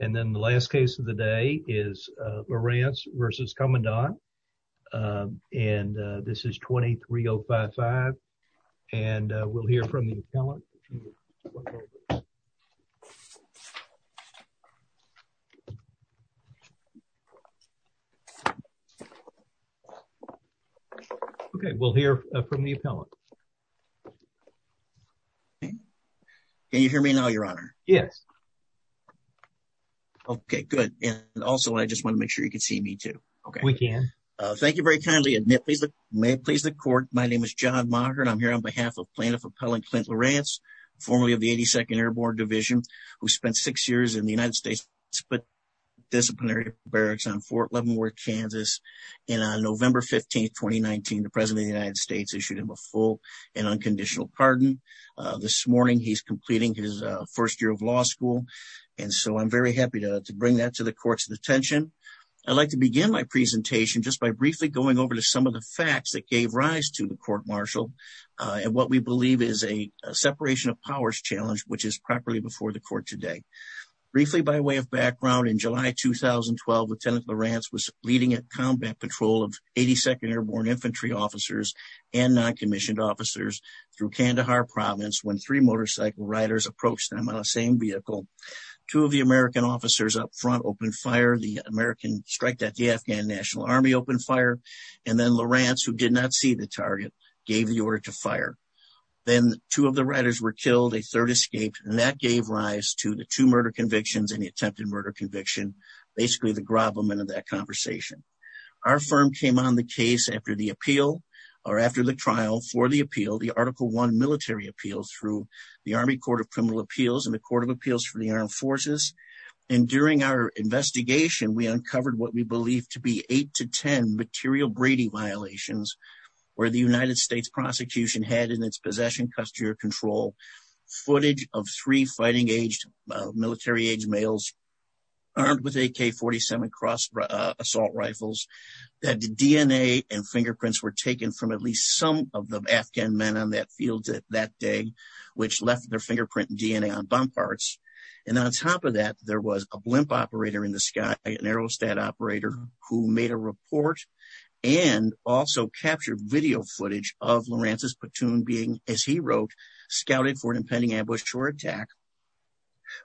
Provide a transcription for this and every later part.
And then the last case of the day is Lawrence versus Commandant and this is 23055 and we'll hear from the appellant okay we'll hear from the appellant. Can you hear me? Okay good and also I just want to make sure you can see me too. Okay we can. Thank you very kindly and may it please the court my name is John Maugher and I'm here on behalf of plaintiff appellant Clint Lawrence formerly of the 82nd Airborne Division who spent six years in the United States but disciplinary barracks on Fort Leavenworth Kansas and on November 15th 2019 the President of the United States issued him a full and unconditional pardon this morning he's completing his first year of law school and so I'm very happy to bring that to the court's attention. I'd like to begin my presentation just by briefly going over to some of the facts that gave rise to the court-martial and what we believe is a separation of powers challenge which is properly before the court today. Briefly by way of background in July 2012 Lieutenant Lawrence was leading a combat patrol of 82nd Airborne Infantry officers and non-commissioned officers through Kandahar province when three motorcycle riders approached them on the same vehicle. Two of the American officers up front opened fire the American strike that the Afghan National Army opened fire and then Lawrence who did not see the target gave the order to fire. Then two of the riders were killed a third escaped and that gave rise to the two murder convictions and the attempted murder conviction basically the conversation. Our firm came on the case after the appeal or after the trial for the appeal the article one military appeals through the Army Court of Criminal Appeals and the Court of Appeals for the Armed Forces and during our investigation we uncovered what we believe to be eight to ten material Brady violations where the United States prosecution had in its possession footage of three fighting-aged military-age males armed with AK-47 cross assault rifles that the DNA and fingerprints were taken from at least some of the Afghan men on that field that day which left their fingerprint DNA on bomb parts and on top of that there was a blimp operator in the sky an aerostat operator who made a report and also captured video footage of Lawrence's platoon being as he wrote scouted for an impending ambush or attack.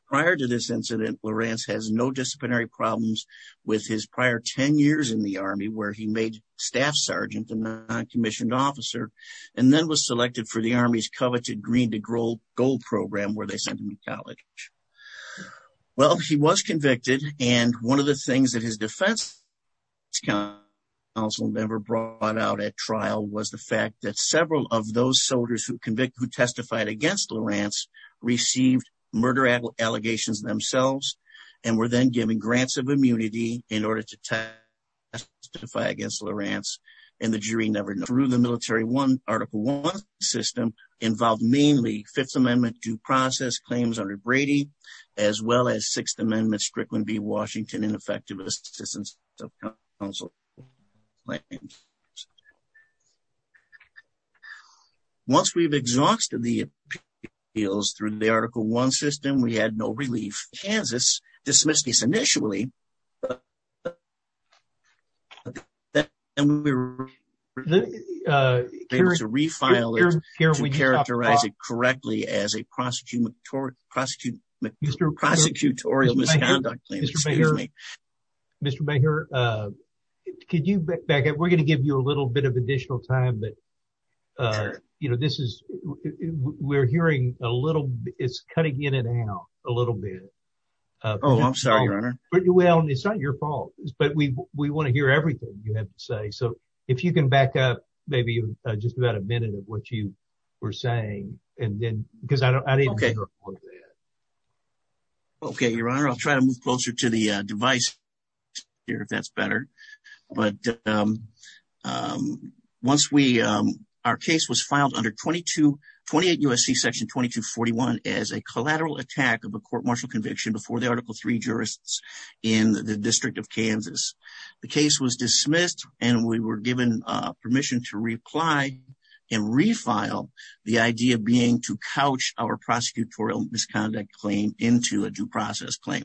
Prior to this incident Lawrence has no disciplinary problems with his prior 10 years in the Army where he made staff sergeant a non-commissioned officer and then was selected for the Army's coveted green to gold program where they sent him to college. Well he was convicted and one of the things that his defense council member brought out at trial was the fact that several of those soldiers who convicted who testified against Lawrence received murder allegations themselves and were then given grants of immunity in order to testify against Lawrence and the jury never knew the military one article one system involved mainly Fifth Amendment due process claims under Brady as well as Sixth Amendment Strickland v Washington and effective assistance of counsel. Once we've exhausted the appeals through the article one system we had no relief. Kansas dismissed this initially but then we were able to refile it to characterize it correctly as a prosecutorial misconduct. Mr. Baker could you back up we're going to give you a little bit of additional time but you know this is we're hearing a little it's cutting in and out a little bit. Oh I'm sorry your honor. Well it's not your fault but we want to hear everything you have to say so if you can back up maybe just about a minute of what you were saying and then because I don't okay. Okay your honor I'll try to move closer to the device here if that's better but once we our case was filed under 22 28 USC section 2241 as a collateral attack of a court martial conviction before the article three jurists in the district of Kansas. The case was our prosecutorial misconduct claim into a due process claim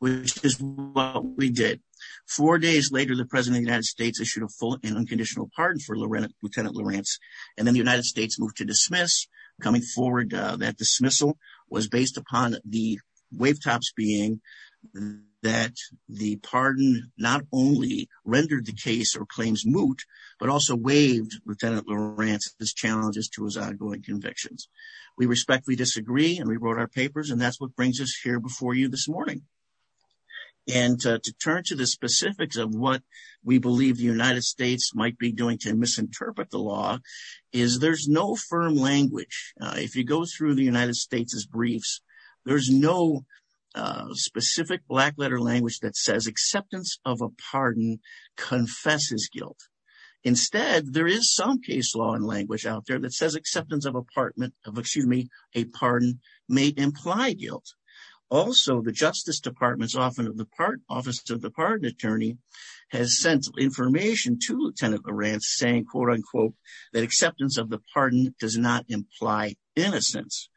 which is what we did. Four days later the president of the United States issued a full and unconditional pardon for lieutenant Lawrence and then the United States moved to dismiss coming forward that dismissal was based upon the wave tops being that the pardon not only rendered the case or claims moot but also waived lieutenant Lawrence's challenges to his outgoing convictions. We respectfully disagree and we wrote our papers and that's what brings us here before you this morning and to turn to the specifics of what we believe the United States might be doing to misinterpret the law is there's no firm language. If you go through the United States's briefs there's no specific black letter language that says acceptance of a pardon confesses guilt. Instead there is some case law and language out there that says acceptance of a pardon may imply guilt. Also the justice department's office of the pardon attorney has sent information to lieutenant Lawrence saying quote unquote that acceptance of the pardon does not imply innocence.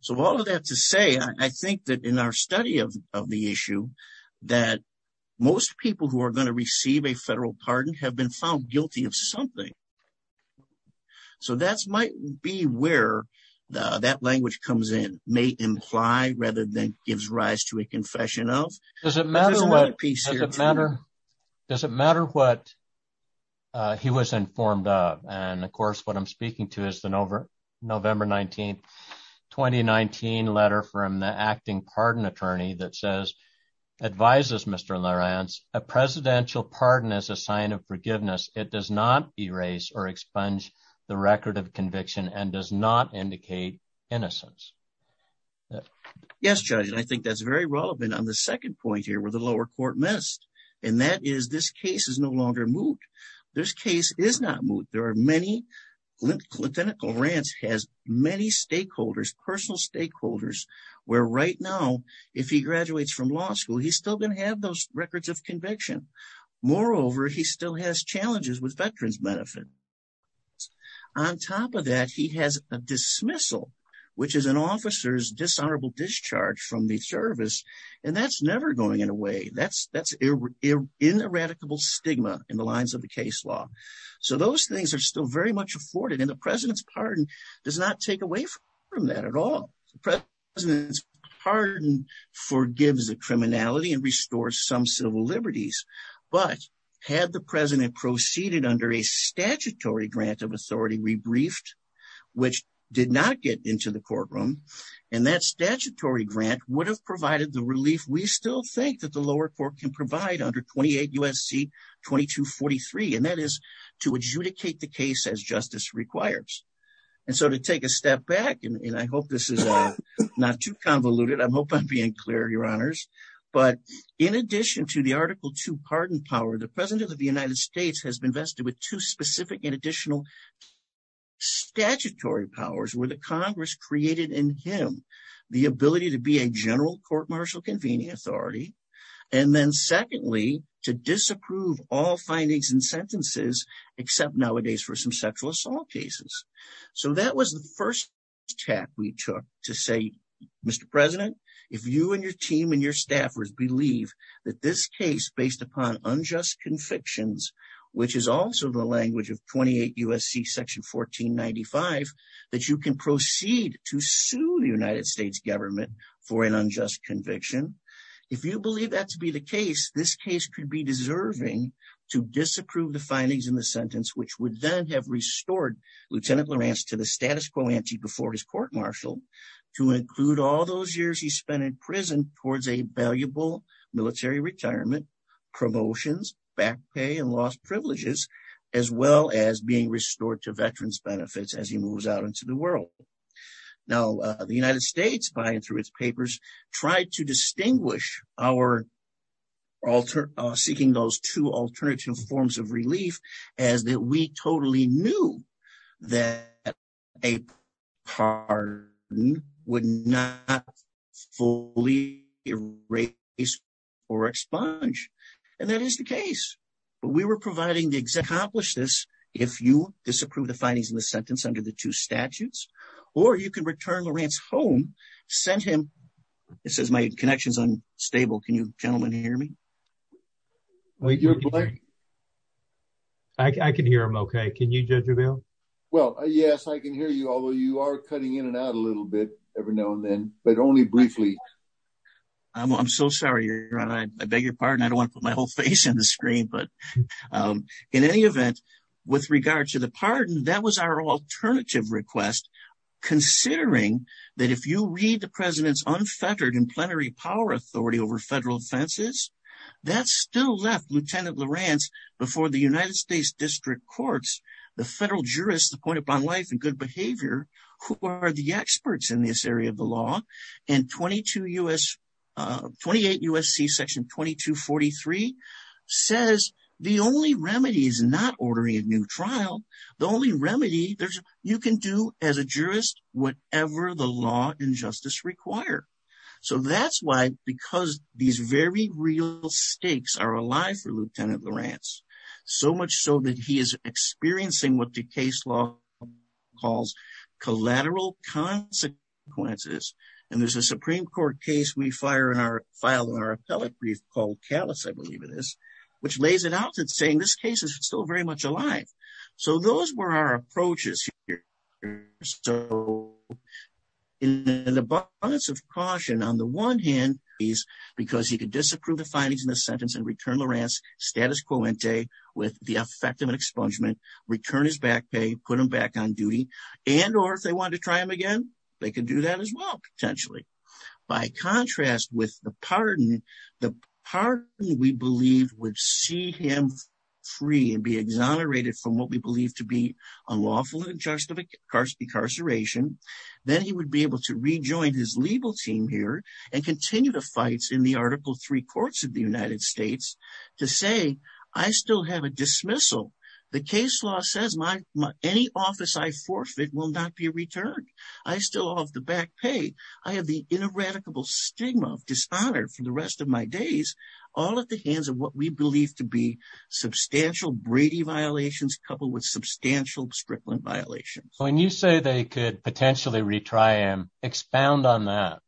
So all of that to say I think that in our study of the issue that most people who are going to something so that's might be where that language comes in may imply rather than gives rise to a confession of. Does it matter what does it matter does it matter what he was informed of and of course what I'm speaking to is the November 19th 2019 letter from the acting pardon attorney that advises Mr. Lawrence a presidential pardon is a sign of forgiveness it does not erase or expunge the record of conviction and does not indicate innocence. Yes judge and I think that's very relevant on the second point here where the lower court missed and that is this case is no longer moot. This case is not moot there are many lieutenant Lawrence has many stakeholders personal stakeholders where right now if he graduates from law school he's still going to have those records of conviction. Moreover he still has challenges with veterans benefit. On top of that he has a dismissal which is an officer's dishonorable discharge from the service and that's never going in a way that's that's in eradicable stigma in the lines of the case law. So those things are still very much afforded and the president's pardon does not take away from that at all. The president's pardon forgives the criminality and restores some civil liberties but had the president proceeded under a statutory grant of authority rebriefed which did not get into the courtroom and that statutory grant would have provided the relief we still think that the lower court can provide under 28 U.S.C. 2243 and that is to adjudicate the case as justice requires. And so to take a step back and I hope this is not too convoluted I'm hoping I'm being clear your honors but in addition to the article two pardon power the president of the United States has been vested with two specific and additional statutory powers where the congress created in him the ability to be a general court martial some sexual assault cases. So that was the first step we took to say Mr. President if you and your team and your staffers believe that this case based upon unjust convictions which is also the language of 28 U.S.C. section 1495 that you can proceed to sue the United States government for an unjust conviction if you believe that to be the case this case could be deserving to disapprove the findings in the sentence which would then have restored Lieutenant Lawrence to the status quo ante before his court martial to include all those years he spent in prison towards a valuable military retirement promotions back pay and lost privileges as well as being restored to veterans benefits as he moves out into the world. Now the United States by and through its papers tried to that we totally knew that a pardon would not fully erase or expunge and that is the case but we were providing the exact accomplish this if you disapprove the findings in the sentence under the two statutes or you can return Lawrence home send him this is my connections unstable can gentlemen hear me I can hear him okay can you judge your bill well yes I can hear you although you are cutting in and out a little bit every now and then but only briefly I'm so sorry I beg your pardon I don't want to put my whole face in the screen but in any event with regard to the pardon that was our alternative request considering that if you read the president's unfettered plenary power authority over federal offenses that still left Lieutenant Lawrence before the United States district courts the federal jurists the point upon life and good behavior who are the experts in this area of the law and 22 U.S. 28 U.S.C. section 2243 says the only remedy is not ordering a new trial the only remedy there's you can do as a jurist whatever the law and justice require so that's why because these very real stakes are alive for Lieutenant Lawrence so much so that he is experiencing what the case law calls collateral consequences and there's a supreme court case we fire in our file in our appellate brief called callous I believe it is which lays it out is still very much alive so those were our approaches here so in an abundance of caution on the one hand is because he could disapprove the findings in the sentence and return Lawrence status quo ente with the effect of an expungement return his back pay put him back on duty and or if they wanted to try him again they could do that as well potentially by contrast with the pardon the pardon we believed would see him free and be exonerated from what we believe to be unlawful in charge of incarceration then he would be able to rejoin his legal team here and continue the fights in the article three courts of the United States to say I still have a dismissal the case law says my any office I forfeit will not be returned I still off the back pay I have the ineradicable stigma of dishonor for the rest of my days all at the hands of what we believe to be substantial Brady violations coupled with substantial strickland violations when you say they could potentially retry and expound on that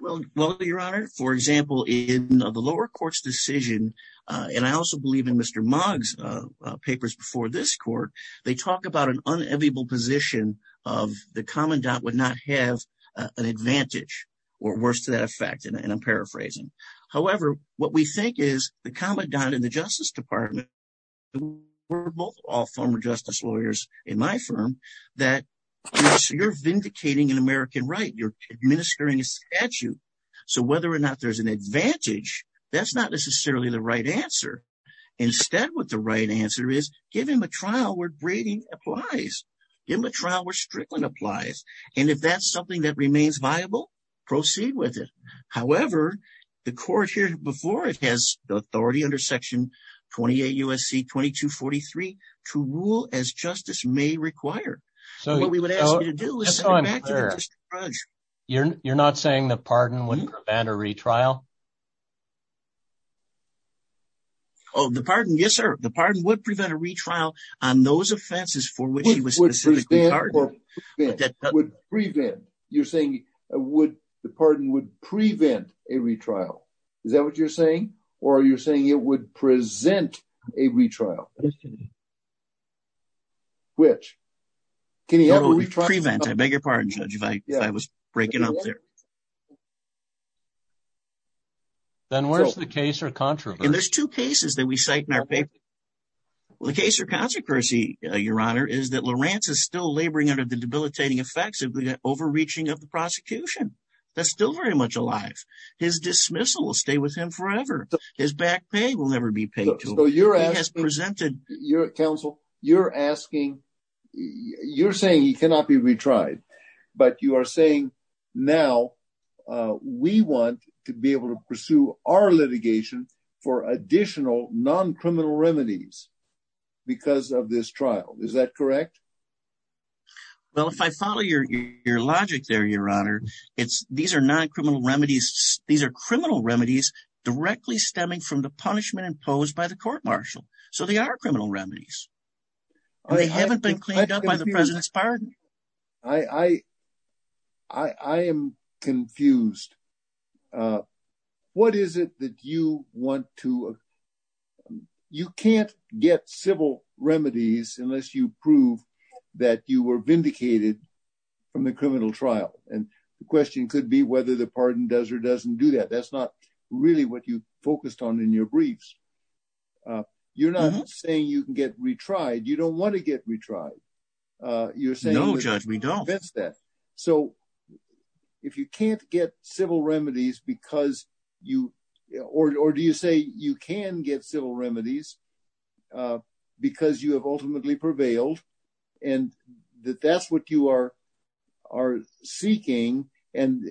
well your honor for example in the lower court's decision and I also believe in Mr. Mogg's papers before this court they talk about an inevitable position of the commandant would not have an advantage or worse to that effect and I'm paraphrasing however what we think is the commandant in the justice department were both all former justice lawyers in my firm that you're vindicating an American right you're administering a statute so whether or not there's an advantage that's not necessarily the right answer instead what the right answer is give him a trial where braiding applies give him a trial where strickland applies and if that's something that remains viable proceed with it however the court here before it has the authority under section 28 USC 2243 to rule as justice may require so what we would ask you to do is you're not saying the pardon oh the pardon yes sir the pardon would prevent a retrial on those offenses for which he was specifically would prevent you're saying would the pardon would prevent a retrial is that what you're saying or are you saying it would present a retrial which can you prevent I beg your pardon judge if I was breaking up there then where's the case or controversy there's two cases that we cite in our paper well the case or consequency your honor is that Lawrence is still laboring under the debilitating effects of the overreaching of the prosecution that's still very much alive his dismissal will stay with him forever his back pay will never be paid so your ass presented your counsel you're asking you're saying he cannot be retried but you are saying now we want to be able to pursue litigation for additional non-criminal remedies because of this trial is that correct well if I follow your your logic there your honor it's these are non-criminal remedies these are criminal remedies directly stemming from the punishment imposed by the court-martial so they are criminal remedies they haven't been cleaned up by the president's pardon I am confused what is it that you want to you can't get civil remedies unless you prove that you were vindicated from the criminal trial and the question could be whether the pardon does or doesn't do that that's not really what you focused on in your briefs you're not saying you can get retried you don't want to get retried uh you're saying no judge we don't fix that so if you can't get civil remedies because you or or do you say you can get civil remedies uh because you have ultimately prevailed and that that's what you are are seeking and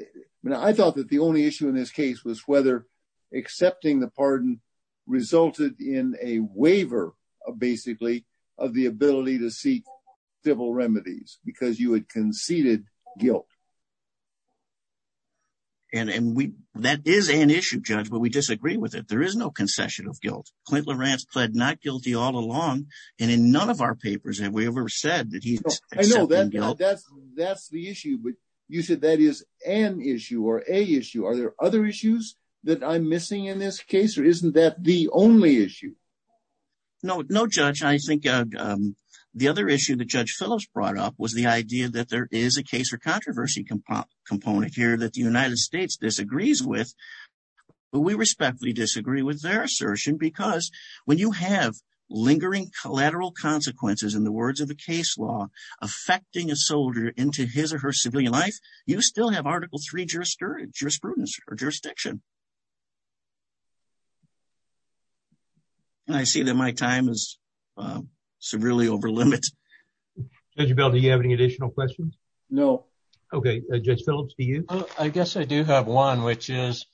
I thought that the only issue in this case was whether accepting the pardon resulted in a waiver of basically of the ability to seek civil remedies because you had conceded guilt and and we that is an issue judge but we disagree with it there is no concession of guilt clint lorenz pled not guilty all along and in none of our papers have we ever said that he's that's that's the issue but you said that is an issue or a issue are there other issues that i'm missing in this case or isn't that the only issue no no judge i think um the other issue that judge phillips brought up was the idea that there is a case for controversy component here that the united states disagrees with but we respectfully disagree with their assertion because when you have lingering collateral consequences in the words of the case law affecting a soldier into his or her civilian life you still have article three jurisprudence or jurisdiction and i see that my time is um severely over limit judge bell do you have any additional questions no okay judge phillips do you i guess i do have one which is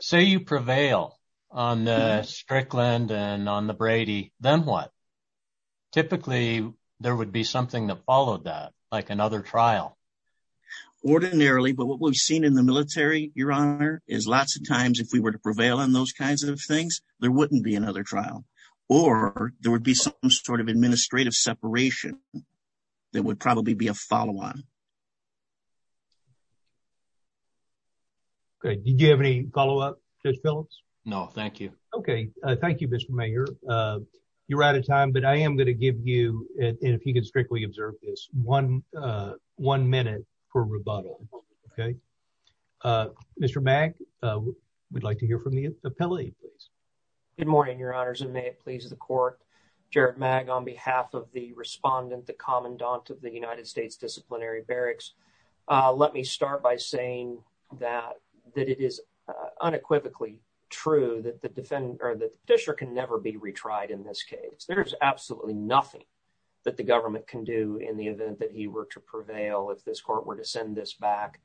say you prevail on the strickland and on the brady then what typically there would be something that followed that like another trial ordinarily but what we've seen in the military your honor is lots of times if we were to prevail on those kinds of things there wouldn't be another trial or there would be some sort of administrative separation that would probably be a follow-on okay did you have any follow-up judge phillips no thank you okay uh thank you mr mayor uh you're out of time but i am going to give you and if you can strictly observe this one uh one minute for rebuttal okay uh mr mag uh we'd like to hear from the appellee please good morning your honors and may it please the court jared mag on behalf of the respondent the commandant of the united states disciplinary barracks uh let me start by saying that that it is unequivocally true that the defendant or the petitioner can never be retried in this case there is absolutely nothing that the government can do in the event that he were to prevail if this court were to send this back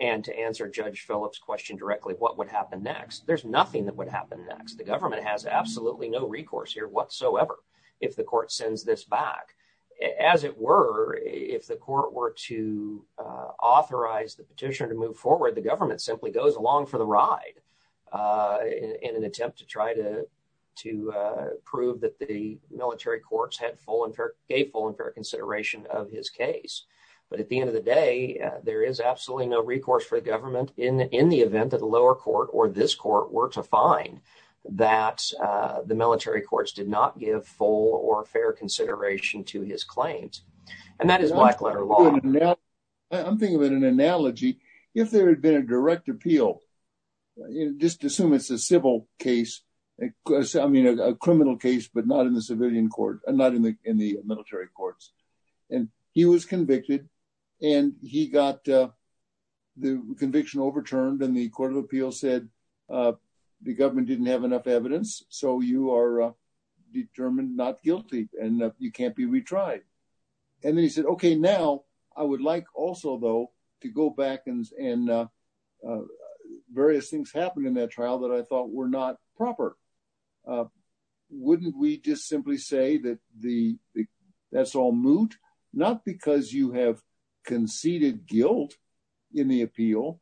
and to answer judge phillips question directly what would happen next there's nothing that would happen next the government has absolutely no recourse here whatsoever if the court sends this back as it were if the court were to uh authorize the petitioner to move forward the government simply goes along for the ride uh in an attempt to try to to uh prove that the military courts had full and gave full and fair consideration of his case but at the end of the day there is absolutely no recourse for the government in in the event that the lower court or this court were to find that uh the military courts did not give full or fair consideration to his claims and that is black letter law i'm thinking of an analogy if there had been a direct appeal just assume it's a civil case because i mean a criminal case but not in the civilian court not in the in the military courts and he was convicted and he got uh the conviction overturned the court of appeals said uh the government didn't have enough evidence so you are determined not guilty and you can't be retried and then he said okay now i would like also though to go back and and uh various things happened in that trial that i thought were not proper wouldn't we just simply say that the that's all moot not because you have conceded guilt in the appeal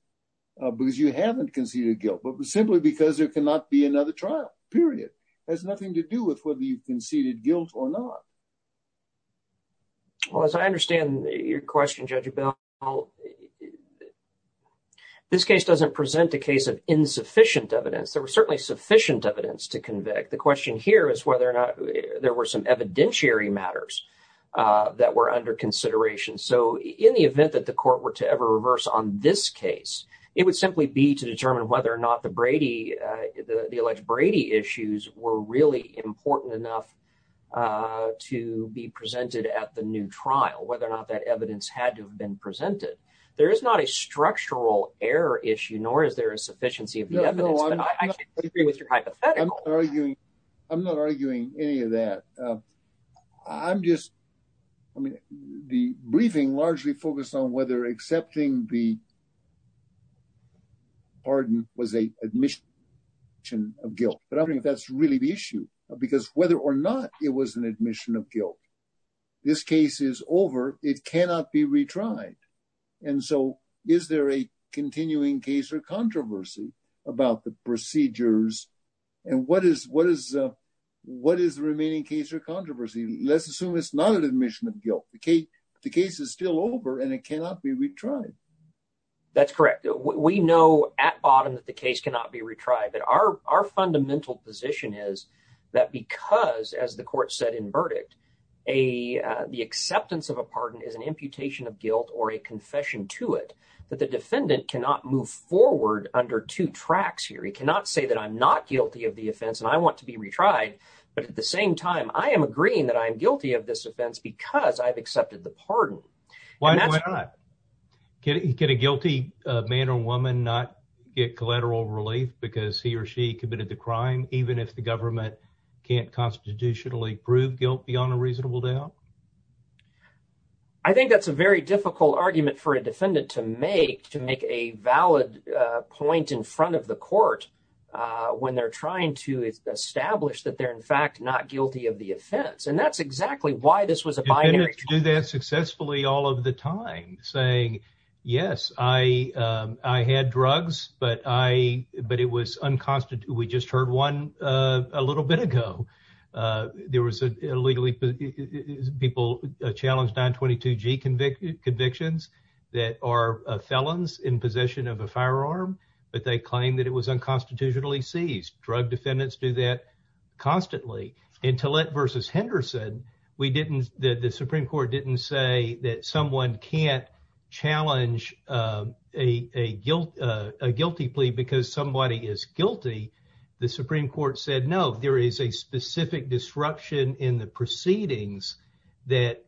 because you haven't conceded guilt but simply because there cannot be another trial period has nothing to do with whether you've conceded guilt or not well as i understand your question judge about this case doesn't present a case of insufficient evidence there was certainly sufficient evidence to convict the question here is whether or not there were some evidentiary matters uh that were under consideration so in the event that the court were to ever reverse on this case it would simply be to determine whether or not the brady uh the elect brady issues were really important enough uh to be presented at the new trial whether or not that evidence had to have been presented there is not a structural error issue nor is there a sufficiency of the evidence agree with your hypothetical i'm not arguing i'm not arguing any of that i'm just i mean the briefing largely focused on whether accepting the pardon was a admission of guilt but i think that's really the issue because whether or not it was an admission of guilt this case is over it cannot be retried and so is there a continuing case or controversy about the procedures and what is what is uh what is the remaining case or controversy let's assume it's not an admission of guilt okay the case is still over and it cannot be retried that's correct we know at bottom that the case cannot be retried that our our fundamental position is that because as the court said in verdict a uh the acceptance of a pardon is an imputation of guilt or a confession to it that the defendant cannot move forward under two tracks here he cannot say that i'm not guilty of the offense and i want to be retried but at the same time i am agreeing that i am guilty of this offense because i've accepted the pardon why not get a guilty uh man or woman not get collateral relief because he or she committed the crime even if the government can't constitutionally prove guilt beyond a reasonable doubt i think that's a very difficult argument for a defendant to make to make a valid uh point in front of the court uh when they're trying to establish that they're in fact not guilty of the offense and that's exactly why this was a binary do that successfully all of the time saying yes i um i had drugs but i but it was unconstitutional we just heard one uh a little bit ago uh there was a legally people challenged 922g convicted convictions that are felons in possession of a firearm but they claim that it was unconstitutionally seized drug defendants do that constantly until it versus henderson we didn't the supreme court didn't say that someone can't because somebody is guilty the supreme court said no there is a specific disruption in the proceedings that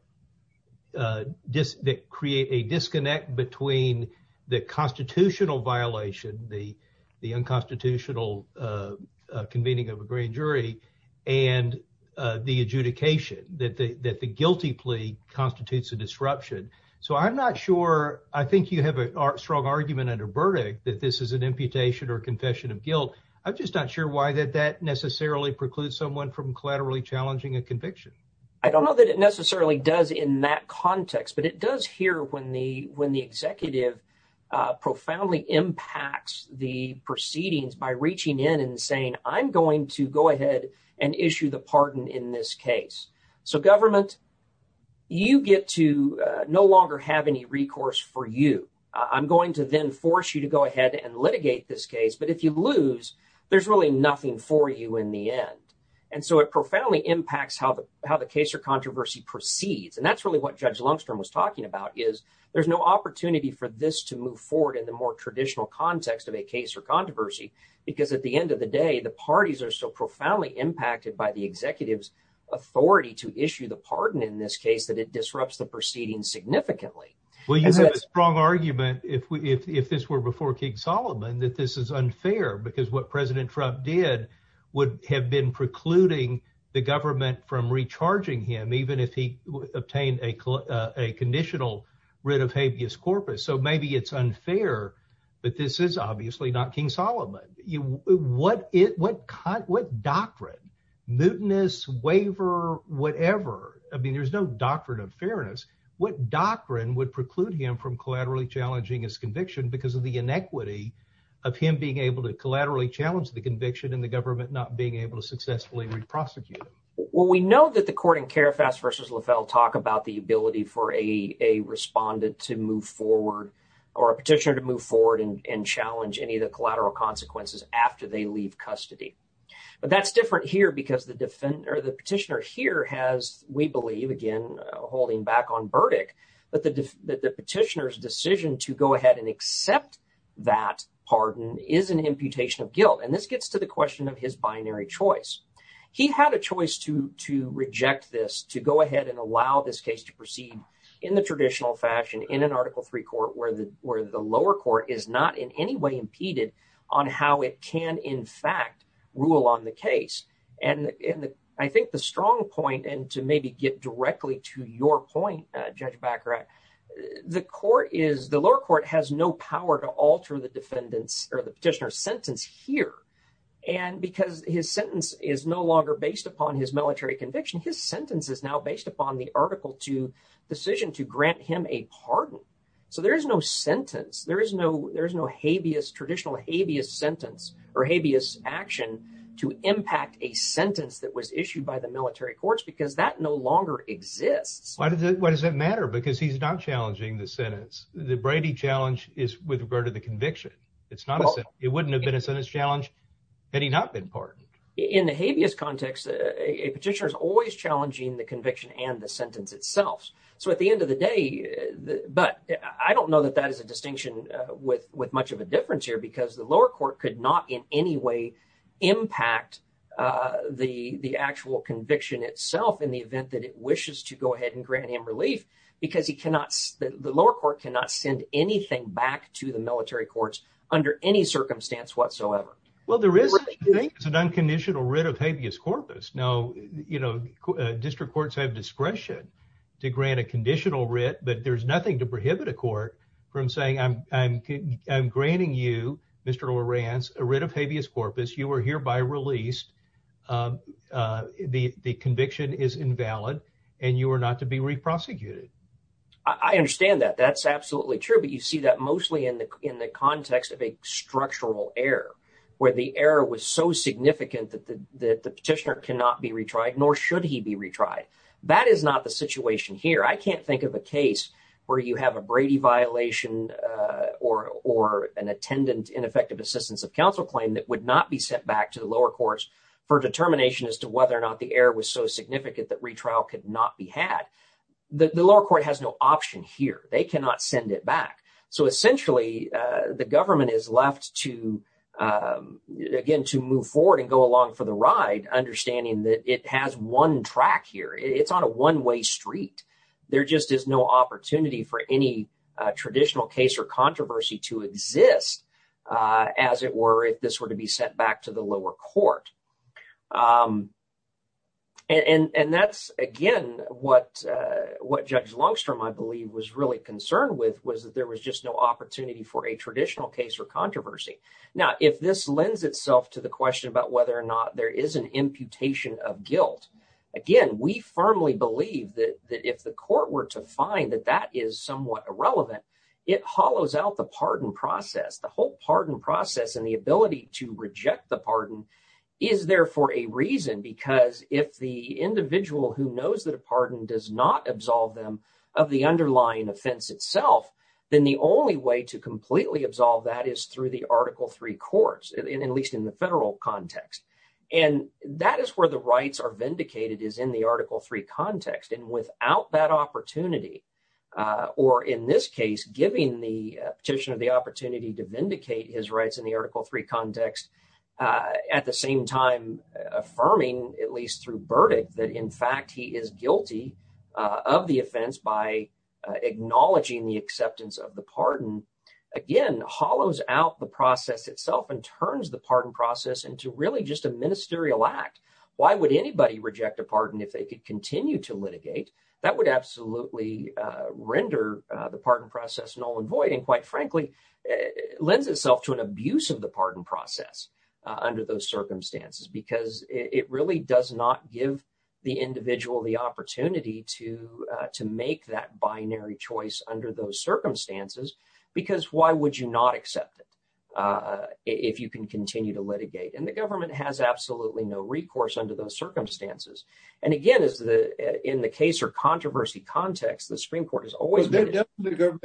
uh just that create a disconnect between the constitutional violation the the unconstitutional uh convening of a grand jury and uh the adjudication that the that the guilty plea constitutes a disruption so i'm not sure i think you have a strong argument under verdict that this is an imputation or confession of guilt i'm just not sure why that that necessarily precludes someone from collaterally challenging a conviction i don't know that it necessarily does in that context but it does here when the when the executive uh profoundly impacts the proceedings by reaching in and saying i'm going to go ahead and issue the pardon in this case so government you get to no longer have any recourse for you i'm going to then force you to go ahead and litigate this case but if you lose there's really nothing for you in the end and so it profoundly impacts how the how the case or controversy proceeds and that's really what judge lungstrom was talking about is there's no opportunity for this to move forward in the more traditional context of a case or controversy because at the end of the day the parties are so profoundly impacted by the executive's authority to issue the pardon in this case that it disrupts the proceeding significantly well you have a strong argument if we if this were before king solomon that this is unfair because what president trump did would have been precluding the government from recharging him even if he obtained a uh a conditional writ of habeas corpus so maybe it's unfair but this is obviously not king solomon you what it what doctrine mutinous waiver whatever i mean there's no doctrine of fairness what doctrine would preclude him from collaterally challenging his conviction because of the inequity of him being able to collaterally challenge the conviction in the government not being able to successfully reprosecute well we know that the court in carafas versus lafelle talk about the ability for a a respondent to move forward or a petitioner to move forward and challenge any of custody but that's different here because the defendant or the petitioner here has we believe again holding back on verdict but the the petitioner's decision to go ahead and accept that pardon is an imputation of guilt and this gets to the question of his binary choice he had a choice to to reject this to go ahead and allow this case to proceed in the traditional fashion in an article three court where the where the lower court is not in any way impeded on how it can in fact rule on the case and and i think the strong point and to maybe get directly to your point uh judge baccarat the court is the lower court has no power to alter the defendants or the petitioner's sentence here and because his sentence is no longer based upon his military conviction his sentence is now based upon the article to decision to grant him a pardon so there's no sentence there is no there's no habeas traditional habeas sentence or habeas action to impact a sentence that was issued by the military courts because that no longer exists why does it why does that matter because he's not challenging the sentence the brady challenge is with regard to the conviction it's not it wouldn't have been a sentence challenge had he not been pardoned in the habeas context a petitioner is always challenging the conviction and the sentence so at the end of the day but i don't know that that is a distinction uh with with much of a difference here because the lower court could not in any way impact uh the the actual conviction itself in the event that it wishes to go ahead and grant him relief because he cannot the lower court cannot send anything back to the military courts under any circumstance whatsoever well there is an unconditional writ of habeas corpus now you know district courts have discretion to grant a conditional writ but there's nothing to prohibit a court from saying i'm i'm i'm granting you mr loran's a writ of habeas corpus you are hereby released uh uh the the conviction is invalid and you are not to be re-prosecuted i understand that that's absolutely true but you see that mostly in the in the context of a structural error where the error was so significant that the petitioner cannot be retried nor should he be retried that is not the situation here i can't think of a case where you have a brady violation uh or or an attendant ineffective assistance of counsel claim that would not be sent back to the lower courts for determination as to whether or not the error was so significant that retrial could not be had the lower court has no option here they cannot send it back so essentially uh the government is left to um again to move forward and go along for the ride understanding that it has one track here it's on a one-way street there just is no opportunity for any uh traditional case or controversy to exist as it were if this were to be sent back to the lower court um and and that's again what uh what judge longstrom i believe was really concerned with was that there was just no opportunity for a traditional case or controversy now if this lends itself to the question about whether or not there is an imputation of guilt again we firmly believe that that if the court were to find that that is somewhat irrelevant it hollows out the pardon process the whole pardon process and the ability to reject the pardon is there for a reason because if the individual who knows that a pardon does not absolve them of the underlying offense itself then the only way to completely absolve that is through the article 3 courts and at least in the federal context and that is where the rights are vindicated is in the article 3 context and without that opportunity uh or in this case giving the petitioner the opportunity to vindicate his rights in the article 3 context uh at the same time affirming at least through verdict that in fact he is guilty of the offense by acknowledging the acceptance of the pardon again hollows out the process itself and turns the pardon process into really just a ministerial act why would anybody reject a pardon if they could continue to litigate that would absolutely uh render uh the pardon process null and void and quite frankly lends itself to an abuse of the pardon process under those circumstances because it really does not give the individual the opportunity to uh to make that binary choice under those circumstances because why would you not accept it uh if you can continue to litigate and the government has absolutely no recourse under those circumstances and again is the in the case or controversy context the supreme court has always been the government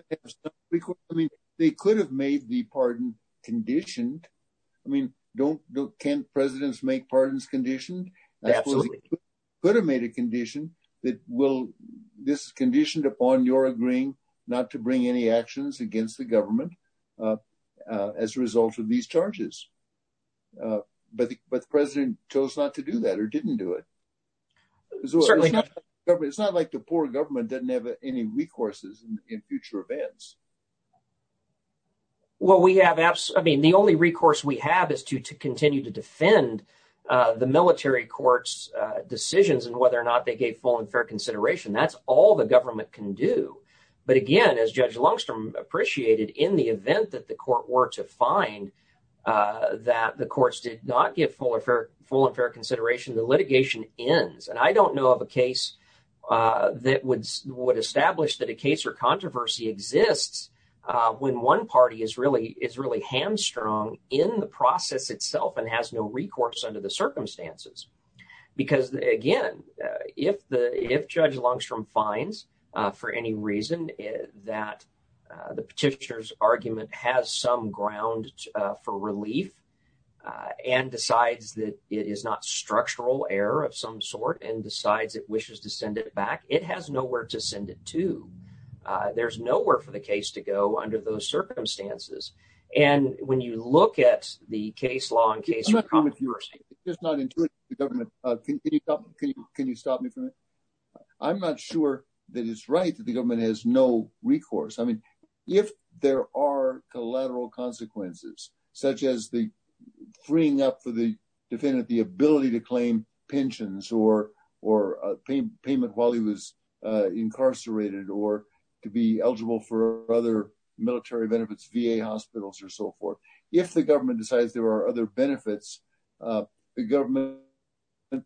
because i mean they could have made the pardon conditioned i mean don't can presidents make pardons conditioned absolutely could have made a condition that will this is conditioned upon your agreeing not to bring any actions against the government uh as a result of these charges uh but but the president chose not to do that or doesn't have any recourses in future events well we have absolutely i mean the only recourse we have is to to continue to defend uh the military court's uh decisions and whether or not they gave full and fair consideration that's all the government can do but again as judge lungstrom appreciated in the event that the court were to find uh that the courts did not give full full and fair consideration the litigation ends and i don't know of a case uh that would would establish that a case or controversy exists uh when one party is really is really hamstrung in the process itself and has no recourse under the circumstances because again if the if judge longstrom finds uh for any reason that the petitioner's argument has some ground uh for relief uh and decides that it is not structural error of some sort and decides it wishes to send it back it has nowhere to send it to uh there's nowhere for the case to go under those circumstances and when you look at the case law in case it's just not intuitive the government uh can you stop can you can you stop me from it i'm not sure that it's right that the government has no recourse i mean if there are collateral consequences such as the freeing up for the defendant the ability to claim pensions or or a payment while he was uh incarcerated or to be eligible for other military benefits va hospitals or so forth if the government decides there are other benefits uh the government and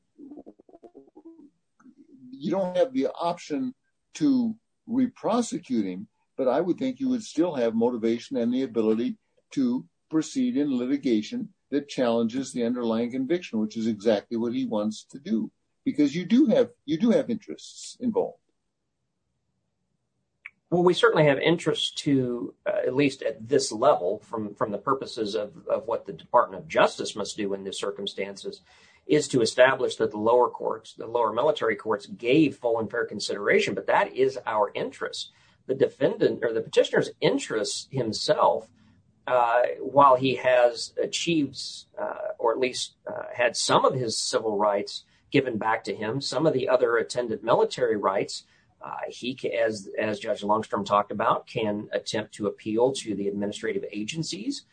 you don't have the option to re-prosecute him but i would think you would still have motivation and the ability to proceed in litigation that challenges the underlying conviction which is exactly what he wants to do because you do have you do have interests involved well we certainly have interest to at least at this level from from the purposes of of what the is to establish that the lower courts the lower military courts gave full and fair consideration but that is our interest the defendant or the petitioner's interest himself uh while he has achieved uh or at least had some of his civil rights given back to him some of the other attendant military rights uh he as as judge longstrom talked about can attempt to appeal to the administrative agencies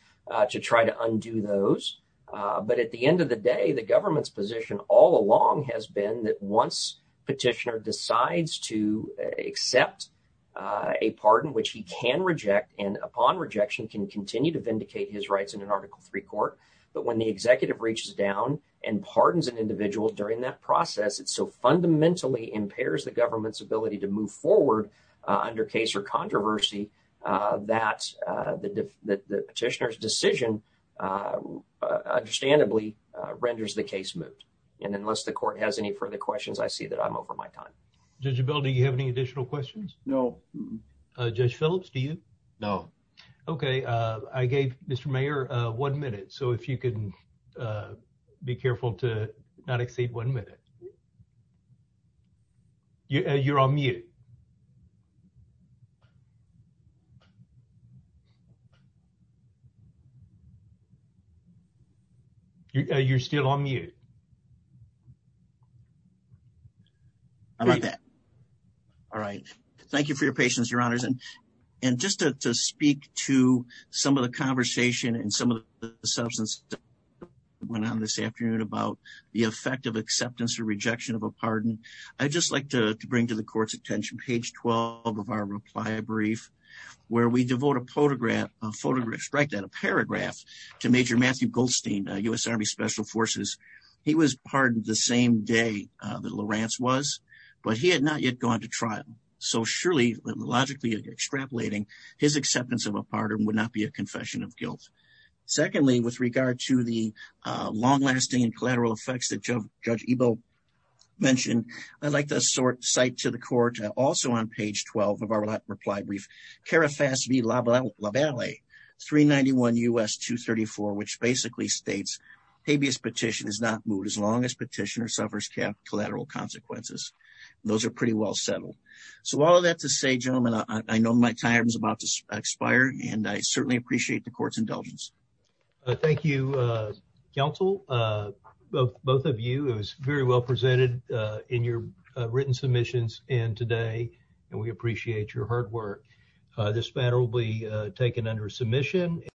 to try to undo those but at the end of the day the government's position all along has been that once petitioner decides to accept a pardon which he can reject and upon rejection can continue to vindicate his rights in an article 3 court but when the executive reaches down and pardons an individual during that process it so fundamentally impairs the government's ability to move forward under case or controversy uh that uh the the petitioner's decision uh understandably uh renders the case moot and unless the court has any further questions i see that i'm over my time judge bill do you have any additional questions no uh judge phillips do you no okay uh i gave mr mayor uh one minute so if you can uh be careful to not exceed one minute you're on mute you're still on mute how about that all right thank you for your patience your honors and and just to speak to some of the conversation and some of the substance that went on this afternoon about the effect of to bring to the court's attention page 12 of our reply brief where we devote a photograph a photograph strike that a paragraph to major matthew goldstein u.s army special forces he was pardoned the same day uh that lorance was but he had not yet gone to trial so surely logically extrapolating his acceptance of a pardon would not be a confession of guilt secondly with regard to the uh long-lasting and collateral effects that judge ebo mentioned i'd like to sort cite to the court also on page 12 of our reply brief carafas v labal labally 391 us 234 which basically states habeas petition is not moot as long as petitioner suffers collateral consequences those are pretty well settled so all of that to say gentlemen i know my time is about to expire and i certainly appreciate the court's indulgence thank you uh counsel uh both of you it was very well presented uh in your written submissions and today and we appreciate your hard work uh this matter will be taken under submission